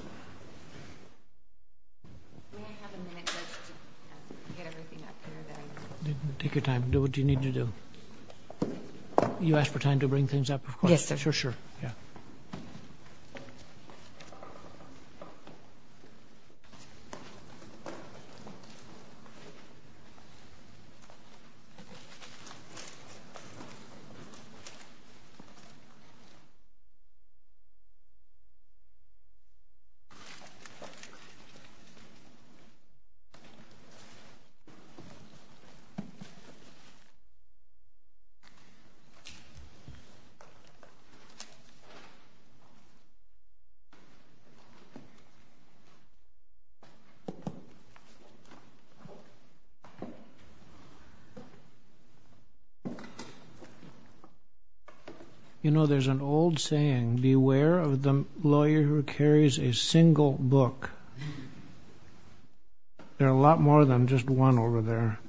May I have a minute just to get everything up here that I just... Take your time. Do what you need to do. You asked for time to bring things up, of course. Yes, sir. Sure, sure. You know, there's an old saying, beware of the lawyer who carries a single book. There are a lot more than just one over there.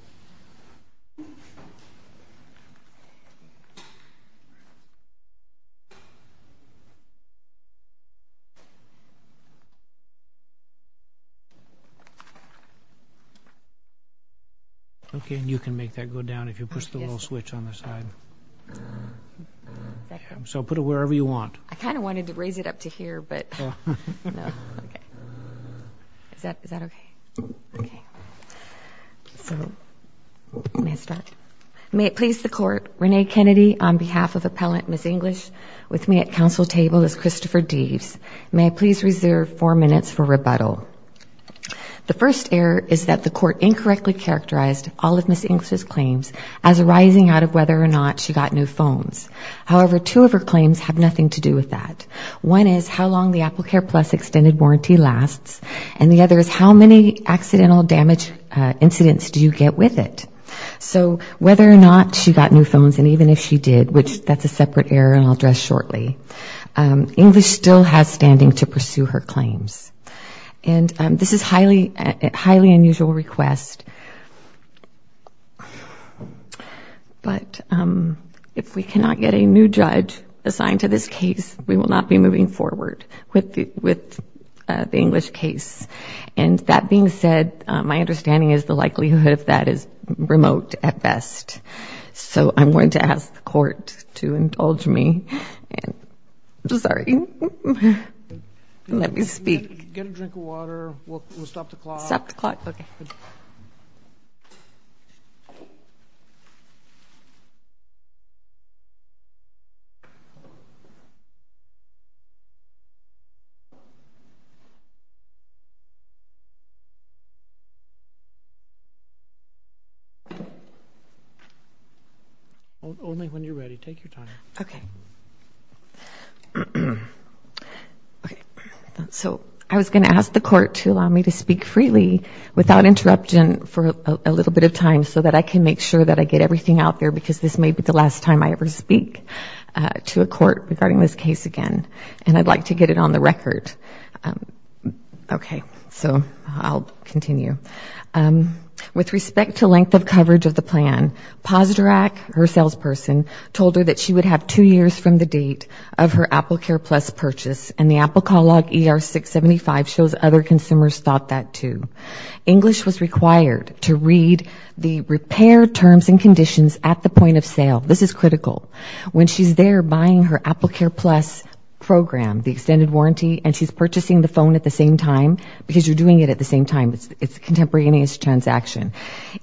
Okay, and you can make that go down if you push the little switch on the side. So put it wherever you want. I kind of wanted to raise it up to here, but... No, okay. Is that okay? Okay. So, may I start? May it please the Court, Renee Kennedy, on behalf of Appellant Ms. English, with me at council table is Christopher Deaves. May I please reserve four minutes for rebuttal. The first error is that the Court incorrectly characterized all of Ms. English's claims as arising out of whether or not she got new phones. However, two of her claims have nothing to do with that. One is how long the AppleCare Plus extended warranty lasts, and the other is how many accidental damage incidents do you get with it. So whether or not she got new phones, and even if she did, which that's a separate error and I'll address shortly, English still has standing to pursue her claims. And this is a highly unusual request, but if we cannot get a new judge assigned to this case, we will not be moving forward with the English case. And that being said, my understanding is the likelihood of that is remote at best. So I'm going to ask the Court to indulge me. I'm sorry. Let me speak. Get a drink of water. We'll stop the clock. Stop the clock. Okay. Only when you're ready. Take your time. Okay. So I was going to ask the Court to allow me to speak freely without interruption for a little bit of time so that I can make sure that I get everything out there because this may be the last time I ever speak to a court regarding this case again, and I'd like to get it on the record. Okay. So I'll continue. With respect to length of coverage of the plan, her salesperson told her that she would have two years from the date of her AppleCare Plus purchase and the Apple Call Log ER-675 shows other consumers thought that too. English was required to read the repair terms and conditions at the point of sale. This is critical. When she's there buying her AppleCare Plus program, the extended warranty, and she's purchasing the phone at the same time because you're doing it at the same time, it's a contemporaneous transaction.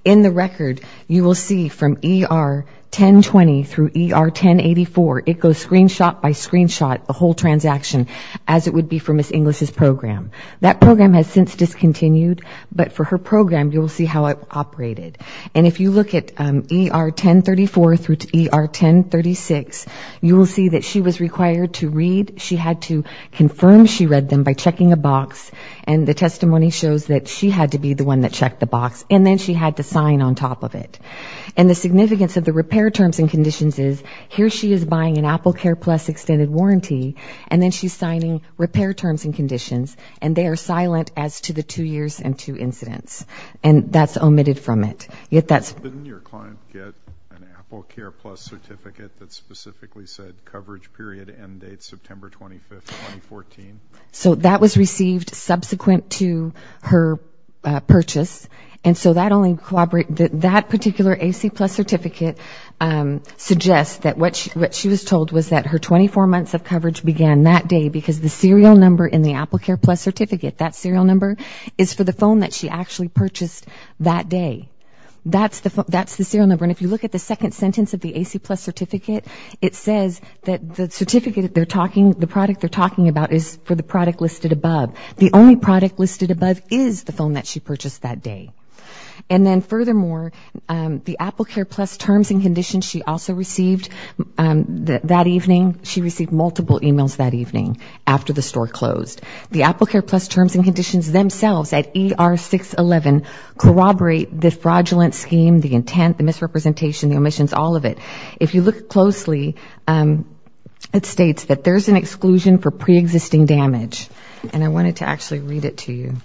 In the record, you will see from ER-1020 through ER-1084, it goes screenshot by screenshot, the whole transaction, as it would be for Ms. English's program. That program has since discontinued, but for her program, you will see how it operated. And if you look at ER-1034 through ER-1036, you will see that she was required to read. She had to confirm she read them by checking a box, and the testimony shows that she had to be the one that checked the box. And then she had to sign on top of it. And the significance of the repair terms and conditions is here she is buying an AppleCare Plus extended warranty, and then she's signing repair terms and conditions, and they are silent as to the two years and two incidents. And that's omitted from it. Didn't your client get an AppleCare Plus certificate that specifically said coverage period end date September 25, 2014? So that was received subsequent to her purchase. And so that only, that particular AC Plus certificate suggests that what she was told was that her 24 months of coverage began that day because the serial number in the AppleCare Plus certificate, that serial number is for the phone that she actually purchased that day. That's the serial number. And if you look at the second sentence of the AC Plus certificate, it says that the certificate they're talking, the product they're talking about is for the product listed above. The only product listed above is the phone that she purchased that day. And then furthermore, the AppleCare Plus terms and conditions she also received that evening, she received multiple emails that evening after the store closed. The AppleCare Plus terms and conditions themselves at ER611 corroborate the fraudulent scheme, the intent, the misrepresentation, the omissions, all of it. If you look closely, it states that there's an exclusion for preexisting damage. And I wanted to actually read it to you.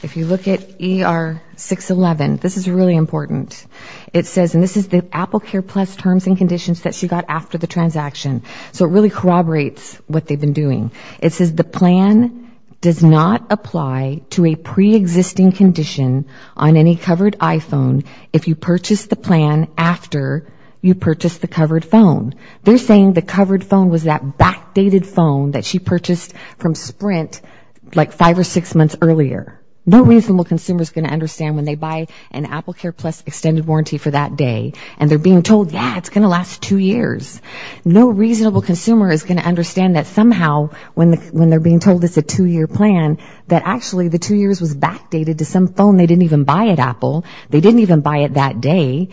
If you look at ER611, this is really important. It says, and this is the AppleCare Plus terms and conditions that she got after the transaction. So it really corroborates what they've been doing. It says the plan does not apply to a preexisting condition on any covered iPhone if you purchase the plan after you purchase the covered phone. They're saying the covered phone was that backdated phone that she purchased from Sprint like five or six months earlier. No reasonable consumer is going to understand when they buy an AppleCare Plus extended warranty for that day and they're being told, yeah, it's going to last two years. No reasonable consumer is going to understand that somehow when they're being told it's a two-year plan, that actually the two years was backdated to some phone. They didn't even buy it, Apple. They didn't even buy it that day.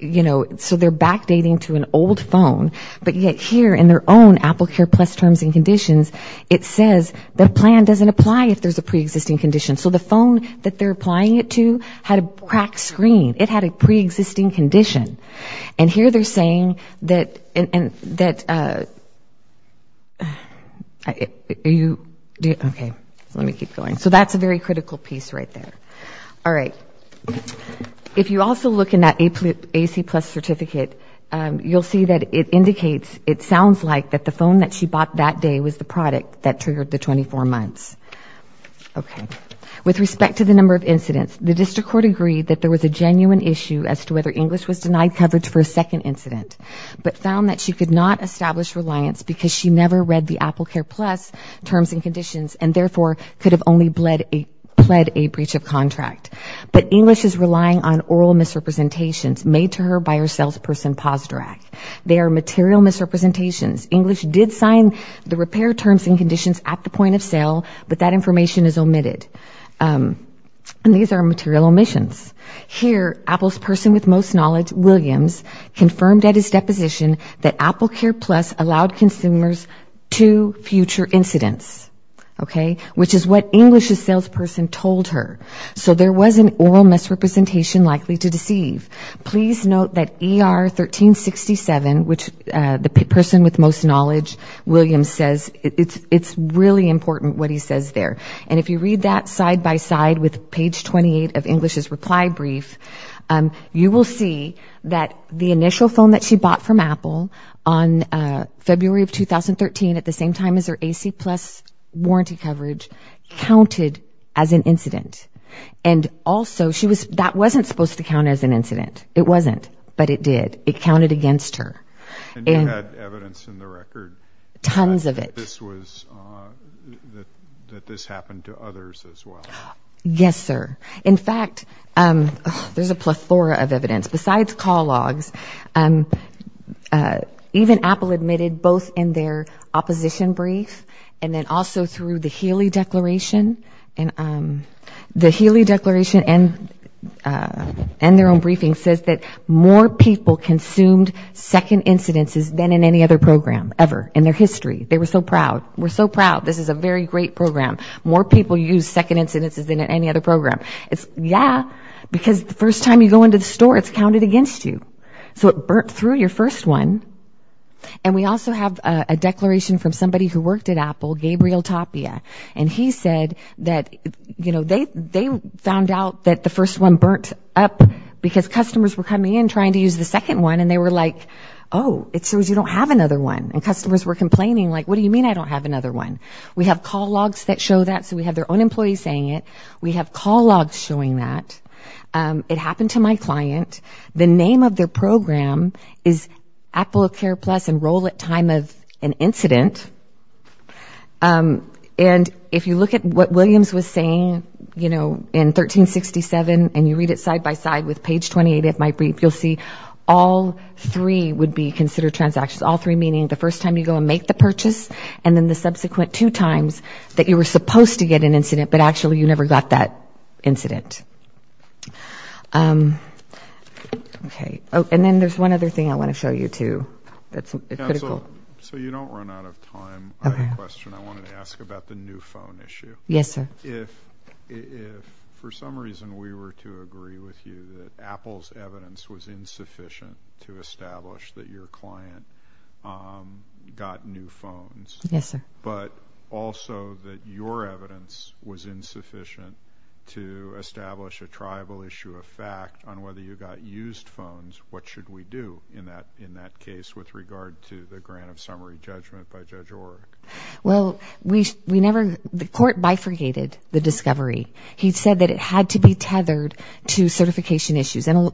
You know, so they're backdating to an old phone. But yet here in their own AppleCare Plus terms and conditions, it says the plan doesn't apply if there's a preexisting condition. So the phone that they're applying it to had a cracked screen. It had a preexisting condition. And here they're saying that, okay, let me keep going. So that's a very critical piece right there. All right. If you also look in that AC Plus certificate, you'll see that it indicates, it sounds like that the phone that she bought that day was the product that triggered the 24 months. Okay. With respect to the number of incidents, the district court agreed that there was a genuine issue as to whether English was denied coverage for a second incident, but found that she could not establish reliance because she never read the AppleCare Plus terms and conditions and therefore could have only pled a breach of contract. But English is relying on oral misrepresentations made to her by her salesperson poster act. They are material misrepresentations. English did sign the repair terms and conditions at the point of sale, but that information is omitted. And these are material omissions. Here, Apple's person with most knowledge, Williams, confirmed at his deposition that AppleCare Plus allowed consumers to future incidents, okay, which is what English's salesperson told her. So there was an oral misrepresentation likely to deceive. Please note that ER 1367, which the person with most knowledge, Williams, says, it's really important what he says there. And if you read that side by side with page 28 of English's reply brief, you will see that the initial phone that she bought from Apple on February of 2013, at the same time as her AC Plus warranty coverage, counted as an incident. And also, that wasn't supposed to count as an incident. It wasn't, but it did. It counted against her. And you had evidence in the record? Tons of it. That this happened to others as well? Yes, sir. In fact, there's a plethora of evidence. Besides call logs, even Apple admitted both in their opposition brief and then also through the Healy Declaration. The Healy Declaration and their own briefing says that more people consumed second incidences than in any other program ever in their history. They were so proud. We're so proud. This is a very great program. More people use second incidences than in any other program. Yeah, because the first time you go into the store, it's counted against you. So it burnt through your first one. And we also have a declaration from somebody who worked at Apple, Gabriel Tapia. And he said that, you know, they found out that the first one burnt up because customers were coming in trying to use the second one, and they were like, oh, it shows you don't have another one. And customers were complaining, like, what do you mean I don't have another one? We have call logs that show that, so we have their own employees saying it. We have call logs showing that. It happened to my client. The name of their program is Apple Care Plus Enroll at Time of an Incident. And if you look at what Williams was saying, you know, in 1367, and you read it side by side with page 28 of my brief, you'll see all three would be considered transactions. All three meaning the first time you go and make the purchase, and then the subsequent two times that you were supposed to get an incident, but actually you never got that incident. And then there's one other thing I want to show you, too, that's critical. So you don't run out of time. I have a question I wanted to ask about the new phone issue. Yes, sir. If for some reason we were to agree with you that Apple's evidence was insufficient to establish that your client got new phones, but also that your evidence was insufficient to establish a tribal issue of fact on whether you got used phones, what should we do in that case with regard to the grant of summary judgment by Judge Orrick? Well, the court bifurcated the discovery. He said that it had to be tethered to certification issues, and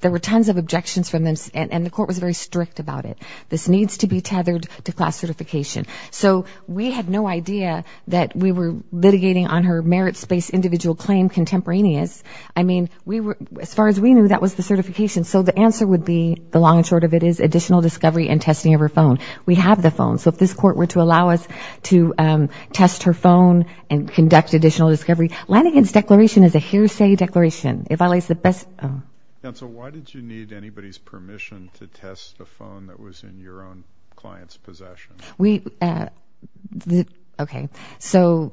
there were tons of objections from them, and the court was very strict about it. This needs to be tethered to class certification. So we had no idea that we were litigating on her merits-based individual claim contemporaneous. I mean, as far as we knew, that was the certification. So the answer would be, the long and short of it, is additional discovery and testing of her phone. We have the phone. So if this court were to allow us to test her phone and conduct additional discovery, Lanigan's declaration is a hearsay declaration. Counsel, why did you need anybody's permission to test the phone that was in your possession? In your own client's possession. Okay. So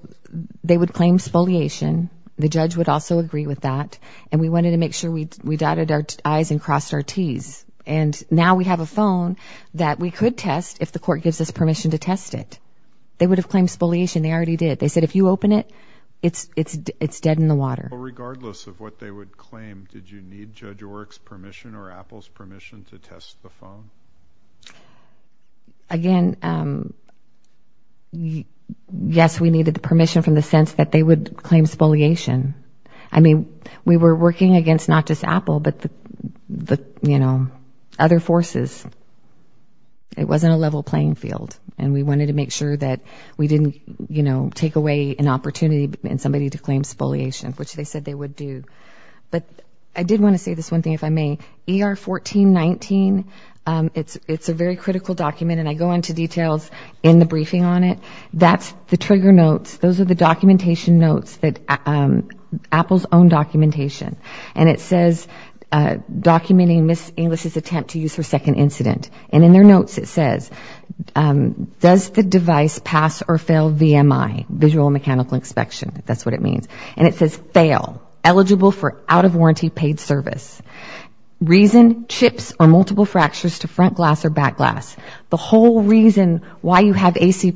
they would claim spoliation. The judge would also agree with that. And we wanted to make sure we dotted our I's and crossed our T's. And now we have a phone that we could test if the court gives us permission to test it. They would have claimed spoliation. They already did. They said, if you open it, it's dead in the water. Regardless of what they would claim, did you need Judge Orrick's permission or Apple's permission to test the phone? Again, yes, we needed the permission from the sense that they would claim spoliation. I mean, we were working against not just Apple, but, you know, other forces. It wasn't a level playing field. And we wanted to make sure that we didn't, you know, take away an opportunity in somebody to claim spoliation, which they said they would do. But I did want to say this one thing, if I may. ER 1419, it's a very critical document. And I go into details in the briefing on it. That's the trigger notes. Those are the documentation notes that Apple's own documentation. And it says, documenting Ms. English's attempt to use her second incident. And in their notes it says, does the device pass or fail VMI, visual and mechanical inspection, if that's what it means. And it says, fail, eligible for out-of-warranty paid service. Reason, chips or multiple fractures to front glass or back glass. The whole reason why you have AC+,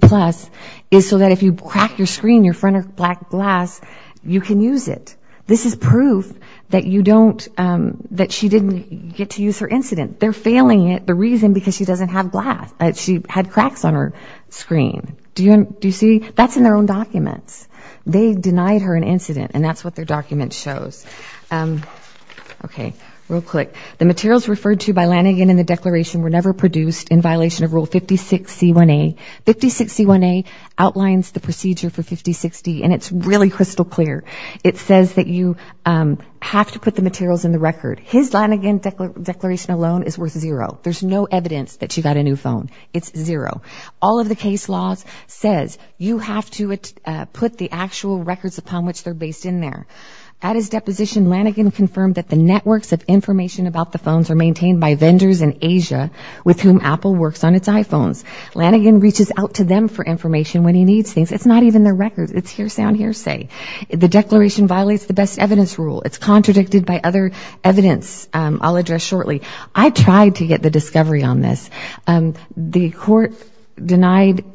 is so that if you crack your screen, your front or back glass, you can use it. This is proof that you don't, that she didn't get to use her incident. They're failing it, the reason, because she doesn't have glass. She had cracks on her screen. Do you see? That's in their own documents. They denied her an incident, and that's what their document shows. Okay. Real quick. The materials referred to by Lanigan in the declaration were never produced in violation of Rule 56C1A. 56C1A outlines the procedure for 5060, and it's really crystal clear. It says that you have to put the materials in the record. His Lanigan declaration alone is worth zero. There's no evidence that she got a new phone. It's zero. All of the case laws says you have to put the actual records upon which they're based in there. At his deposition, Lanigan confirmed that the networks of information about the phones are maintained by vendors in Asia, with whom Apple works on its iPhones. Lanigan reaches out to them for information when he needs things. It's not even their records. It's hearsay on hearsay. The declaration violates the best evidence rule. It's contradicted by other evidence I'll address shortly. I tried to get the discovery on this. The court denied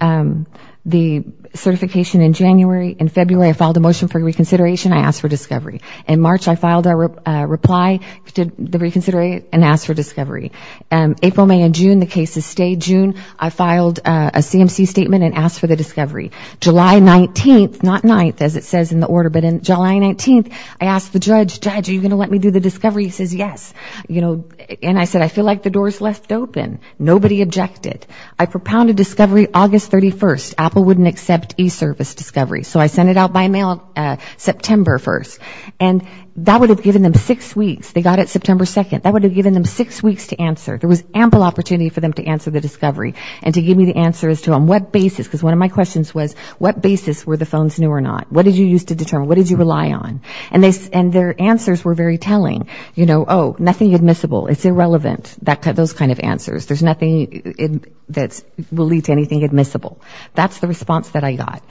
the certification in January. In February, I filed a motion for reconsideration. I asked for discovery. In March, I filed a reply to the reconsideration and asked for discovery. April, May, and June, the cases stayed. June, I filed a CMC statement and asked for the discovery. July 19th, not 9th, as it says in the order, but in July 19th, I asked the judge, judge, are you going to let me do the discovery? He says yes. And I said, I feel like the door is left open. Nobody objected. I propounded discovery August 31st. Apple wouldn't accept e-service discovery. So I sent it out by mail September 1st. And that would have given them six weeks. They got it September 2nd. That would have given them six weeks to answer. There was ample opportunity for them to answer the discovery and to give me the answers to on what basis, because one of my questions was, what basis were the phones new or not? What did you use to determine? What did you rely on? And their answers were very telling. You know, oh, nothing admissible. It's irrelevant, those kind of answers. There's nothing that will lead to anything admissible. That's the response that I got.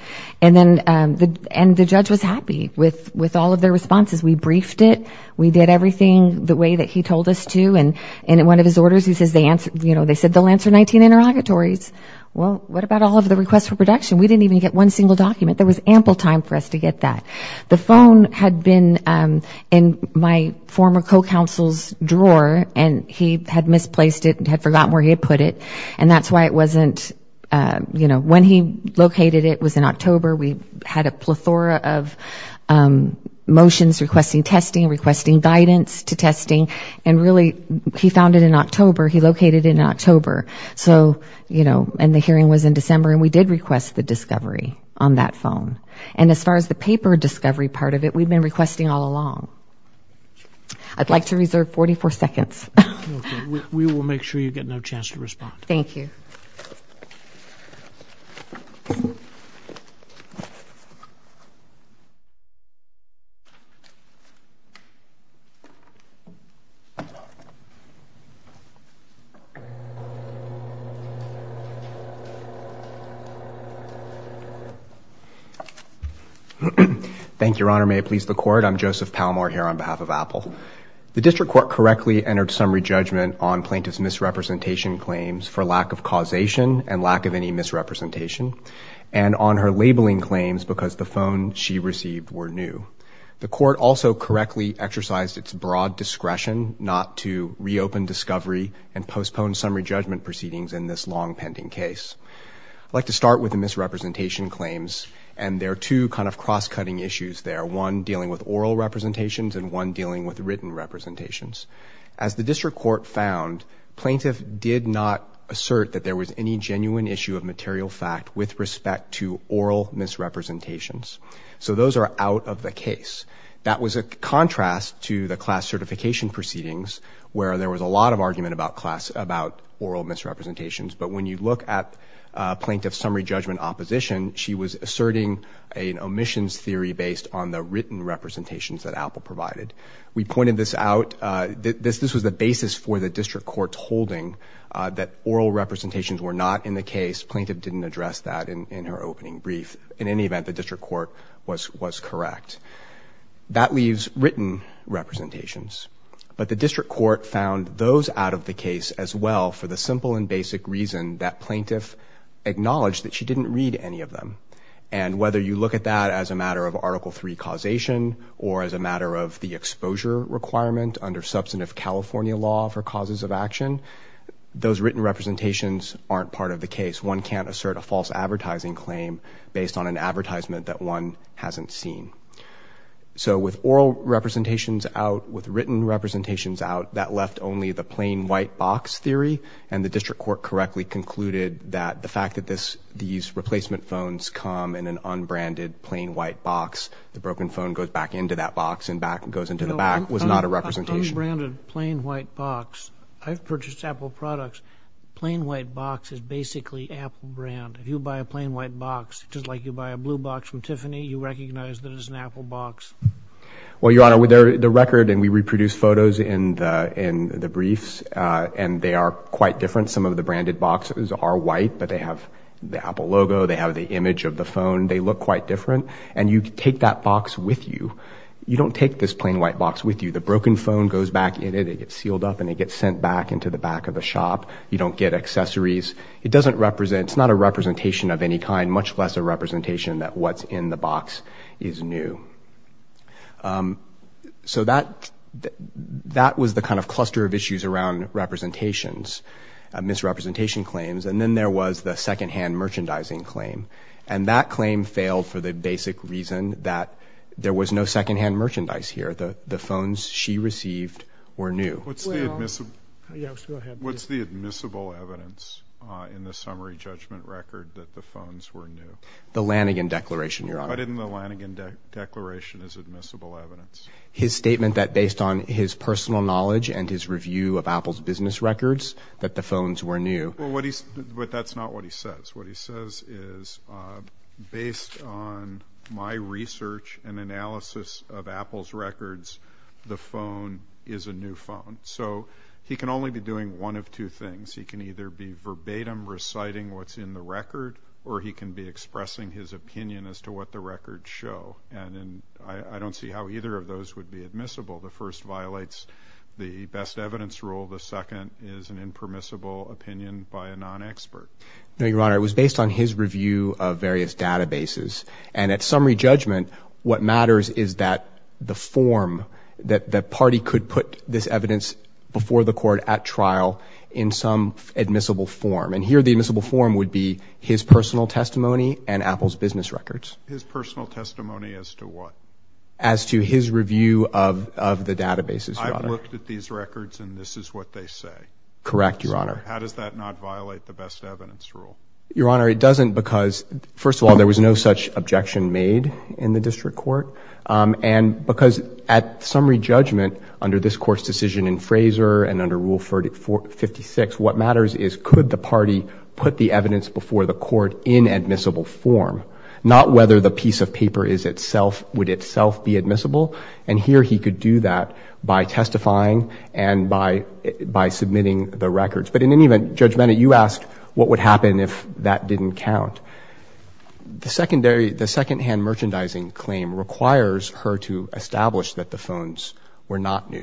And then the judge was happy with all of their responses. We briefed it. We did everything the way that he told us to. And in one of his orders, he says, you know, they said they'll answer 19 interrogatories. Well, what about all of the requests for production? We didn't even get one single document. There was ample time for us to get that. The phone had been in my former co-counsel's drawer, and he had misplaced it and had forgotten where he had put it. And that's why it wasn't, you know, when he located it, it was in October. We had a plethora of motions requesting testing, requesting guidance to testing. And really, he found it in October. He located it in October. So, you know, and the hearing was in December. And we did request the discovery on that phone. And as far as the paper discovery part of it, we've been requesting all along. I'd like to reserve 44 seconds. We will make sure you get another chance to respond. Thank you. Thank you, Your Honor. May it please the Court. I'm Joseph Palmore here on behalf of Apple. The district court correctly entered summary judgment on plaintiff's misrepresentation claims for lack of causation and lack of any misrepresentation, and on her labeling claims because the phone she received were new. The court also correctly exercised its broad discretion not to reopen discovery and postpone summary judgment proceedings in this long-pending case. I'd like to start with the misrepresentation claims. And there are two kind of cross-cutting issues there, one dealing with oral representations and one dealing with written representations. As the district court found, plaintiff did not assert that there was any genuine issue of material fact with respect to oral misrepresentations. So those are out of the case. That was a contrast to the class certification proceedings where there was a lot of argument about oral misrepresentations. But when you look at plaintiff's summary judgment opposition, she was asserting an omissions theory based on the written representations that Apple provided. We pointed this out. This was the basis for the district court's holding that oral representations were not in the case. Plaintiff didn't address that in her opening brief. In any event, the district court was correct. That leaves written representations. But the district court found those out of the case as well for the simple and basic reason that plaintiff acknowledged that she didn't read any of them. And whether you look at that as a matter of Article III causation or as a matter of the exposure requirement under substantive California law for causes of action, those written representations aren't part of the case. One can't assert a false advertising claim based on an advertisement that one hasn't seen. So with oral representations out, with written representations out, that left only the plain white box theory. And the district court correctly concluded that the fact that these replacement phones come in an unbranded plain white box, the broken phone goes back into that box and goes into the back was not a representation. Unbranded plain white box. I've purchased Apple products. Plain white box is basically Apple brand. If you buy a plain white box, just like you buy a blue box from Tiffany, you recognize that it's an Apple box. Well, Your Honor, the record, and we reproduce photos in the briefs, and they are quite different. Some of the branded boxes are white, but they have the Apple logo. They have the image of the phone. They look quite different. And you take that box with you. You don't take this plain white box with you. The broken phone goes back in it, it gets sealed up, and it gets sent back into the back of the shop. You don't get accessories. It's not a representation of any kind, much less a representation that what's in the box is new. So that was the kind of cluster of issues around representations, misrepresentation claims. And then there was the secondhand merchandising claim. And that claim failed for the basic reason that there was no secondhand merchandise here. The phones she received were new. What's the admissible evidence in the summary judgment record that the phones were new? The Lanigan Declaration, Your Honor. Why didn't the Lanigan Declaration have admissible evidence? His statement that based on his personal knowledge and his review of Apple's business records, that the phones were new. But that's not what he says. What he says is, based on my research and analysis of Apple's records, the phone is a new phone. So he can only be doing one of two things. He can either be verbatim reciting what's in the record, or he can be expressing his opinion as to what the records show. And I don't see how either of those would be admissible. The first violates the best evidence rule. The second is an impermissible opinion by a non-expert. No, Your Honor. It was based on his review of various databases. And at summary judgment, what matters is that the form that the party could put this evidence before the court at trial in some admissible form. And here the admissible form would be his personal testimony and Apple's business records. His personal testimony as to what? As to his review of the databases, Your Honor. I've looked at these records, and this is what they say. Correct, Your Honor. How does that not violate the best evidence rule? Your Honor, it doesn't because, first of all, there was no such objection made in the district court. And because at summary judgment under this Court's decision in Fraser and under Rule 56, what matters is could the party put the evidence before the court in admissible form, not whether the piece of paper would itself be admissible. And here he could do that by testifying and by submitting the records. But in any event, Judge Bennett, you asked what would happen if that didn't count. The secondhand merchandising claim requires her to establish that the phones were not new.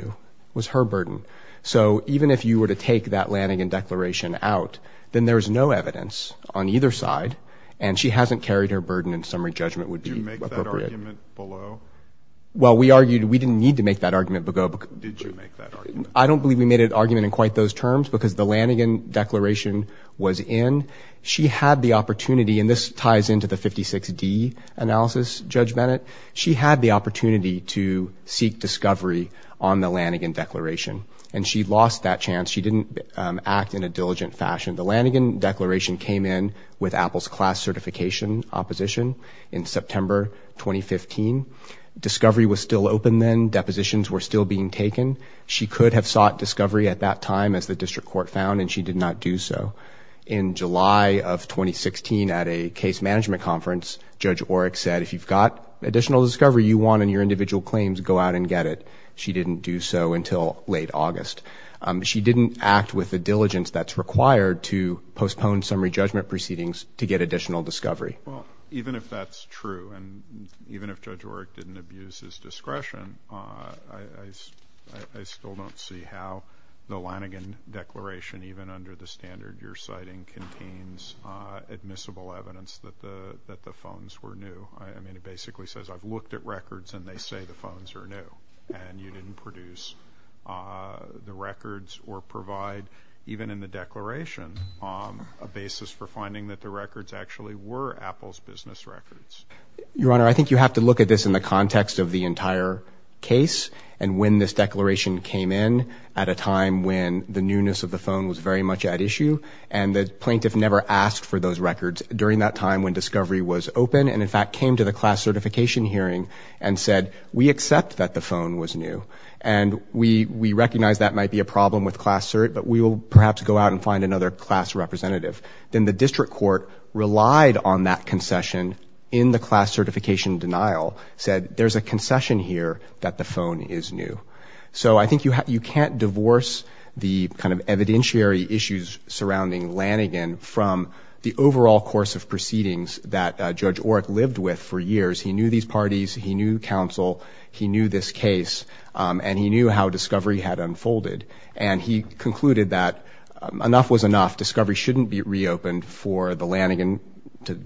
It was her burden. So even if you were to take that Lanigan Declaration out, then there is no evidence on either side, and she hasn't carried her burden in summary judgment would be appropriate. Did you make that argument below? Well, we argued we didn't need to make that argument below. Did you make that argument? I don't believe we made an argument in quite those terms because the Lanigan Declaration was in. She had the opportunity, and this ties into the 56D analysis, Judge Bennett. She had the opportunity to seek discovery on the Lanigan Declaration. And she lost that chance. She didn't act in a diligent fashion. The Lanigan Declaration came in with Apple's class certification opposition in September 2015. Discovery was still open then. Depositions were still being taken. She could have sought discovery at that time, as the district court found, and she did not do so. In July of 2016, at a case management conference, Judge Orrick said, if you've got additional discovery you want in your individual claims, go out and get it. She didn't do so until late August. She didn't act with the diligence that's required to postpone summary judgment proceedings to get additional discovery. Well, even if that's true, and even if Judge Orrick didn't abuse his discretion, I still don't see how the Lanigan Declaration, even under the standard you're citing, contains admissible evidence that the phones were new. I mean, it basically says, I've looked at records and they say the phones are new, and you didn't produce the records or provide, even in the declaration, a basis for finding that the records actually were Apple's business records. Your Honor, I think you have to look at this in the context of the entire case and when this declaration came in at a time when the newness of the phone was very much at issue and the plaintiff never asked for those records during that time when discovery was open and in fact came to the class certification hearing and said, we accept that the phone was new and we recognize that might be a problem with class cert, but we will perhaps go out and find another class representative. Then the district court relied on that concession in the class certification denial, said there's a concession here that the phone is new. So I think you can't divorce the kind of evidentiary issues surrounding Lanigan from the overall course of proceedings that Judge Orrick lived with for years. He knew these parties, he knew counsel, he knew this case and he knew how discovery had unfolded and he concluded that enough was enough, discovery shouldn't be reopened for the Lanigan to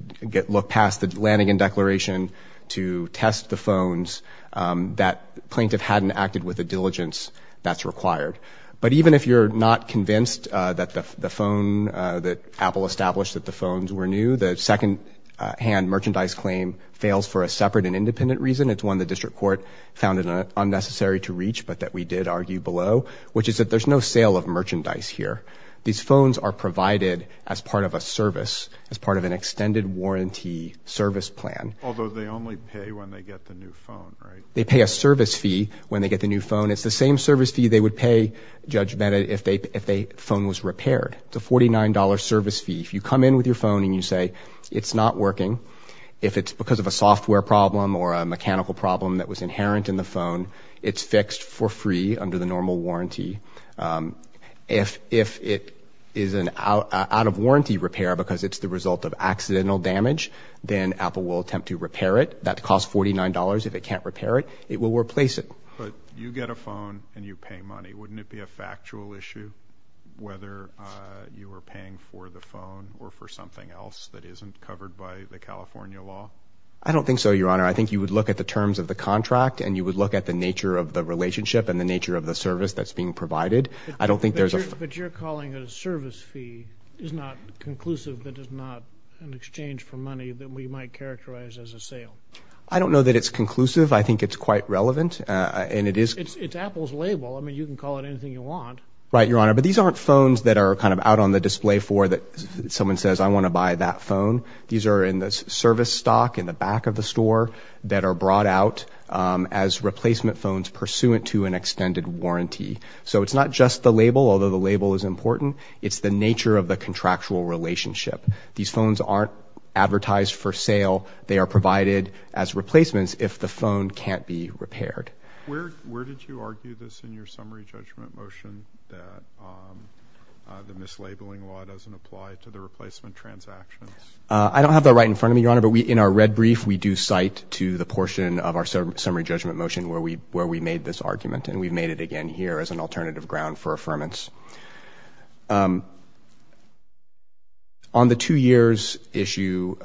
look past the Lanigan declaration to test the phones that plaintiff hadn't acted with the diligence that's required. But even if you're not convinced that the phone that Apple established that the phones were new, the secondhand merchandise claim fails for a separate and independent reason, it's one the district court found unnecessary to reach but that we did argue below, which is that there's no sale of merchandise here. These phones are provided as part of a service, as part of an extended warranty service plan. Although they only pay when they get the new phone, right? They pay a service fee when they get the new phone. It's the same service fee they would pay, Judge Bennett, if a phone was repaired. It's a $49 service fee. If you come in with your phone and you say, it's not working, if it's because of a software problem or a mechanical problem that was inherent in the phone, it's fixed for free under the normal warranty. If it is an out-of-warranty repair because it's the result of accidental damage, then Apple will attempt to repair it. That costs $49. If it can't repair it, it will replace it. But you get a phone and you pay money. Wouldn't it be a factual issue whether you were paying for the phone or for something else that isn't covered by the California law? I don't think so, Your Honor. I think you would look at the terms of the contract and you would look at the nature of the relationship and the nature of the service that's being provided. But your calling it a service fee is not conclusive. It is not an exchange for money that we might characterize as a sale. I don't know that it's conclusive. I think it's quite relevant. It's Apple's label. I mean, you can call it anything you want. Right, Your Honor. But these aren't phones that are kind of out on the display for that someone says, I want to buy that phone. These are in the service stock in the back of the store that are brought out as replacement phones pursuant to an extended warranty. So it's not just the label, although the label is important. It's the nature of the contractual relationship. These phones aren't advertised for sale. They are provided as replacements if the phone can't be repaired. Where did you argue this in your summary judgment motion that the mislabeling law doesn't apply to the replacement transactions? I don't have that right in front of me, Your Honor, but in our red brief we do cite to the portion of our summary judgment motion where we made this argument. And we've made it again here as an alternative ground for affirmance. On the two years issue,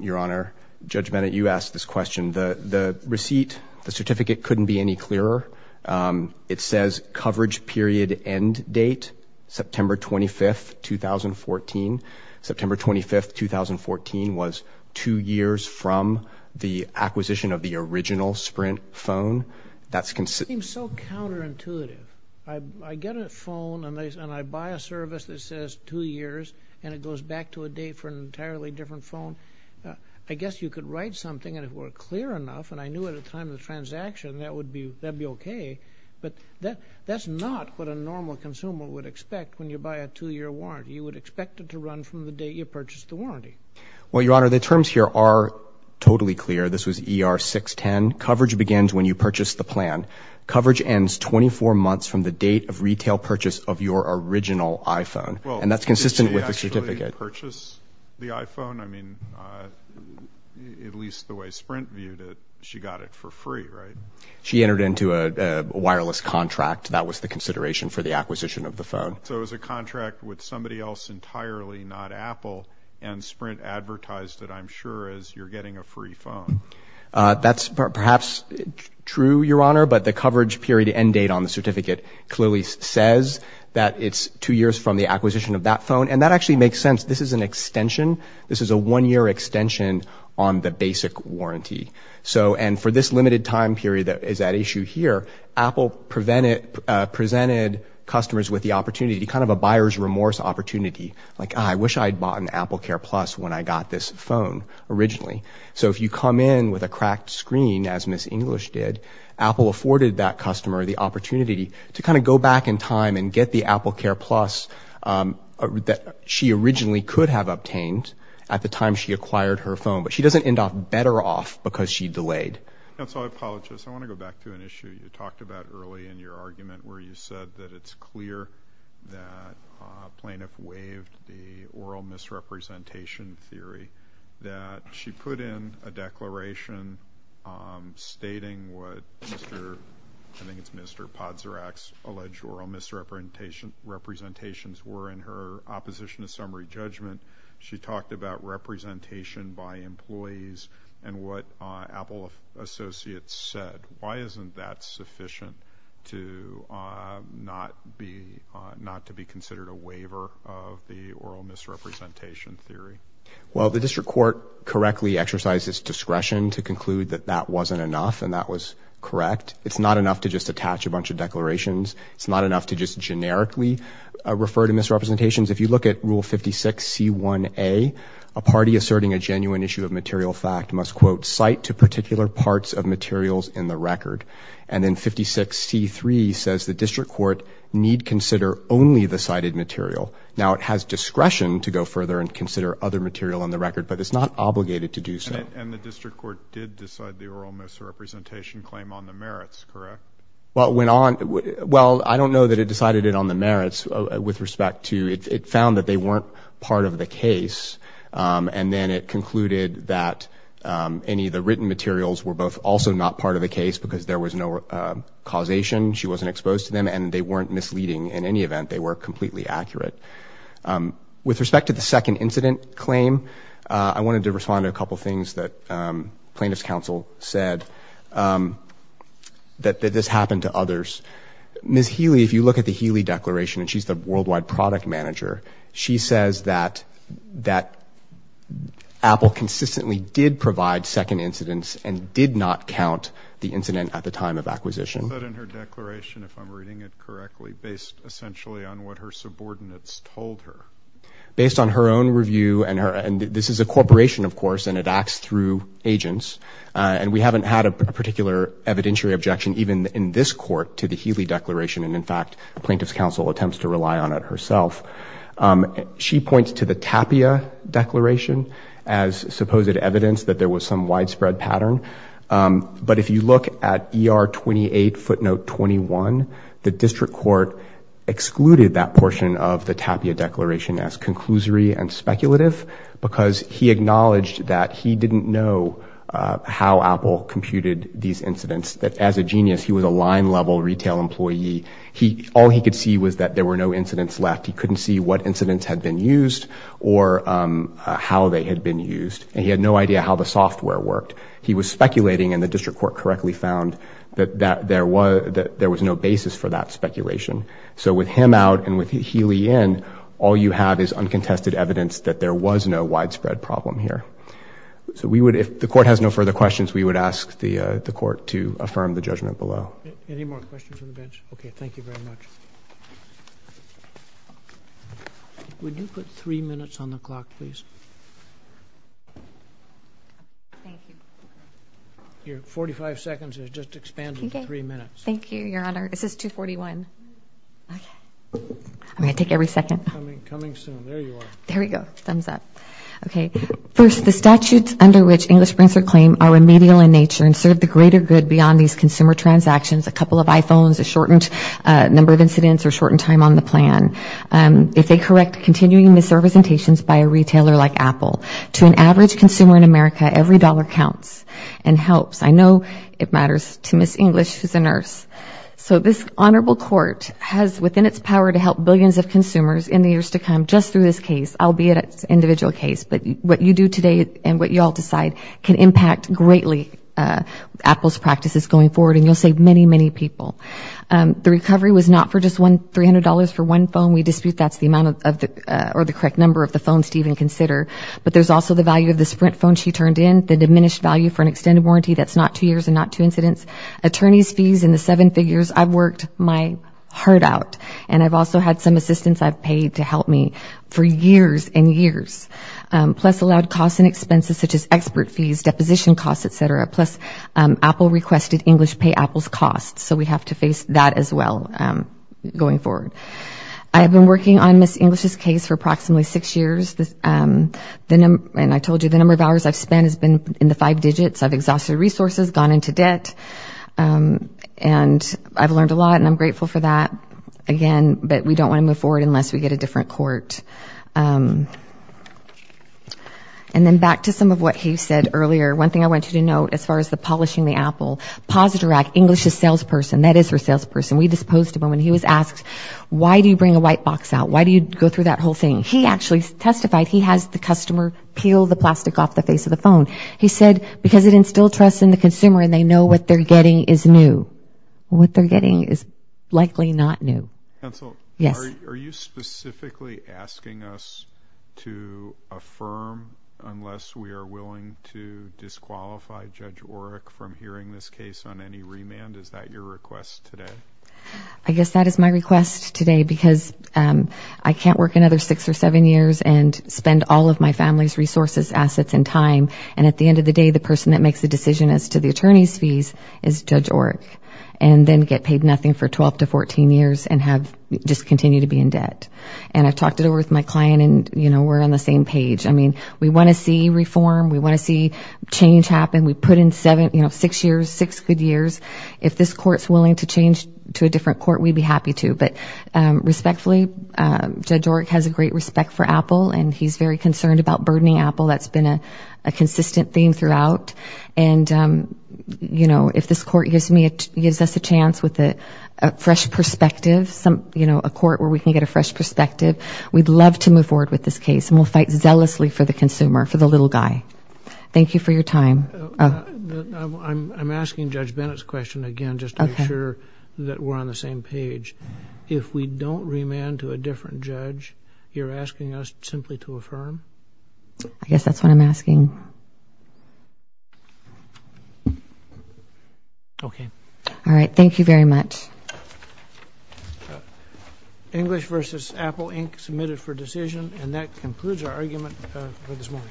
Your Honor, Judge Bennett, you asked this question. The receipt, the certificate couldn't be any clearer. It says coverage period end date, September 25th, 2014. September 25th, 2014 was two years from the acquisition of the original Sprint phone. That seems so counterintuitive. I get a phone and I buy a service that says two years and it goes back to a date for an entirely different phone. I guess you could write something and it were clear enough and I knew at the time of the transaction that would be okay. But that's not what a normal consumer would expect when you buy a two-year warranty. You would expect it to run from the date you purchased the warranty. Well, Your Honor, the terms here are totally clear. This was ER 610. Coverage begins when you purchase the plan. Coverage ends 24 months from the date of retail purchase of your original iPhone. And that's consistent with the certificate. Well, did she actually purchase the iPhone? I mean, at least the way Sprint viewed it, she got it for free, right? She entered into a wireless contract. That was the consideration for the acquisition of the phone. So it was a contract with somebody else entirely, not Apple, and Sprint advertised it, I'm sure, as you're getting a free phone. That's perhaps true, Your Honor, but the coverage period end date on the certificate clearly says that it's two years from the acquisition of that phone. And that actually makes sense. This is an extension. This is a one-year extension on the basic warranty. And for this limited time period that is at issue here, Apple presented customers with the opportunity, kind of a buyer's remorse opportunity. Like, I wish I had bought an AppleCare Plus when I got this phone originally. So if you come in with a cracked screen, as Ms. English did, Apple afforded that customer the opportunity to kind of go back in time and get the AppleCare Plus that she originally could have obtained at the time she acquired her phone. But she doesn't end up better off because she delayed. And so I apologize. I want to go back to an issue you talked about early in your argument where you said that it's clear that a plaintiff waived the oral misrepresentation theory, that she put in a declaration stating what Mr., I think it's Mr. Podsorak's alleged oral misrepresentations were in her opposition to summary judgment. She talked about representation by employees and what Apple associates said. Why isn't that sufficient to not be considered a waiver of the oral misrepresentation theory? Well, the district court correctly exercises discretion to conclude that that wasn't enough and that was correct. It's not enough to just attach a bunch of declarations. It's not enough to just generically refer to misrepresentations. If you look at Rule 56C1A, a party asserting a genuine issue of material fact must quote, cite to particular parts of materials in the record. And then 56C3 says the district court need consider only the cited material. Now it has discretion to go further and consider other material in the record, but it's not obligated to do so. And the district court did decide the oral misrepresentation claim on the merits, correct? Well, I don't know that it decided it on the merits with respect to, it found that they weren't part of the case and then it concluded that any of the written materials were both also not part of the case because there was no causation, she wasn't exposed to them and they weren't misleading in any event. They were completely accurate. With respect to the second incident claim, I wanted to respond to a couple things that plaintiff's counsel said that this happened to others. Ms. Healy, if you look at the Healy declaration and she's the worldwide product manager, she says that Apple consistently did provide second incidents and did not count the incident at the time of acquisition. Is that in her declaration, if I'm reading it correctly, based essentially on what her subordinates told her? Based on her own review and this is a corporation of course and it acts through agents and we haven't had a particular evidentiary objection even in this court to the Healy declaration and in fact plaintiff's counsel attempts to rely on it herself. She points to the Tapia declaration as supposed evidence that there was some widespread pattern but if you look at ER 28 footnote 21, the district court excluded that portion of the Tapia declaration as conclusory and speculative because he acknowledged that he didn't know how Apple computed these incidents that as a genius he was a line level retail employee. All he could see was that there were no incidents left. He couldn't see what incidents had been used or how they had been used and he had no idea how the software worked. He was speculating and the district court correctly found that there was no basis for that speculation. So with him out and with Healy in, all you have is uncontested evidence that there was no widespread problem here. So if the court has no further questions, we would ask the court to affirm the judgment below. Any more questions from the bench? Okay, thank you very much. Would you put three minutes on the clock, please? Thank you. Your 45 seconds has just expanded to three minutes. Thank you, Your Honor. This is 241. I'm going to take every second. There we go. Thumbs up. Okay, first, the statutes under which English prints are claimed are remedial in nature and serve the greater good beyond these consumer transactions. A couple of iPhones, a shortened number of incidents or shortened time on the plan. If they correct continuing misrepresentations by a retailer like Apple to an average consumer in America, every dollar counts and helps. I know it matters to Ms. English, who's a nurse. So this honorable court has within its power to help billions of consumers in the years to come just through this case, albeit it's an individual case. But what you do today and what you all decide can impact greatly Apple's practices going forward, and you'll save many, many people. The recovery was not for just $300 for one phone. We dispute that's the correct number of the phones to even consider. But there's also the value of the Sprint phone she turned in, the diminished value for an extended warranty that's not two years and not two incidents. Attorneys' fees in the seven figures, I've worked my heart out. And I've also had some assistance I've paid to help me for years and years. Plus allowed costs and expenses such as expert fees, deposition costs, et cetera. Plus Apple requested English pay Apple's costs. So we have to face that as well going forward. I have been working on Ms. English's case for approximately six years. And I told you the number of hours I've spent has been in the five digits. I've exhausted resources, gone into debt. And I've learned a lot, and I'm grateful for that. Again, but we don't want to move forward unless we get a different court. And then back to some of what he said earlier. One thing I want you to note as far as the polishing the Apple, positive act, English's salesperson, that is her salesperson. We disposed of her when he was asked, why do you bring a white box out? Why do you go through that whole thing? He actually testified he has the customer peel the plastic off the face of the phone. He said because it instilled trust in the consumer and they know what they're getting is new. What they're getting is likely not new. Yes. Are you specifically asking us to affirm unless we are willing to disqualify Judge Oreck from hearing this case on any remand? Is that your request today? I guess that is my request today. Because I can't work another six or seven years and spend all of my family's resources, assets, and time. And at the end of the day, the person that makes the decision as to the attorney's fees is Judge Oreck. And then get paid nothing for 12 to 14 years and just continue to be in debt. And I talked it over with my client and we're on the same page. We want to see reform. We want to see change happen. We put in six good years. If this court is willing to change to a different court, we'd be happy to. But respectfully, Judge Oreck has a great respect for Apple and he's very concerned about burdening Apple. That's been a consistent theme throughout. And if this court gives us a chance with a fresh perspective, a court where we can get a fresh perspective, we'd love to move forward with this case. And we'll fight zealously for the consumer, for the little guy. Thank you for your time. I'm asking Judge Bennett's question again just to make sure that we're on the same page. If we don't remand to a different judge, you're asking us simply to affirm? I guess that's what I'm asking. Okay. All right. Thank you very much. English versus Apple Inc. submitted for decision. And that concludes our argument for this morning. Thank you.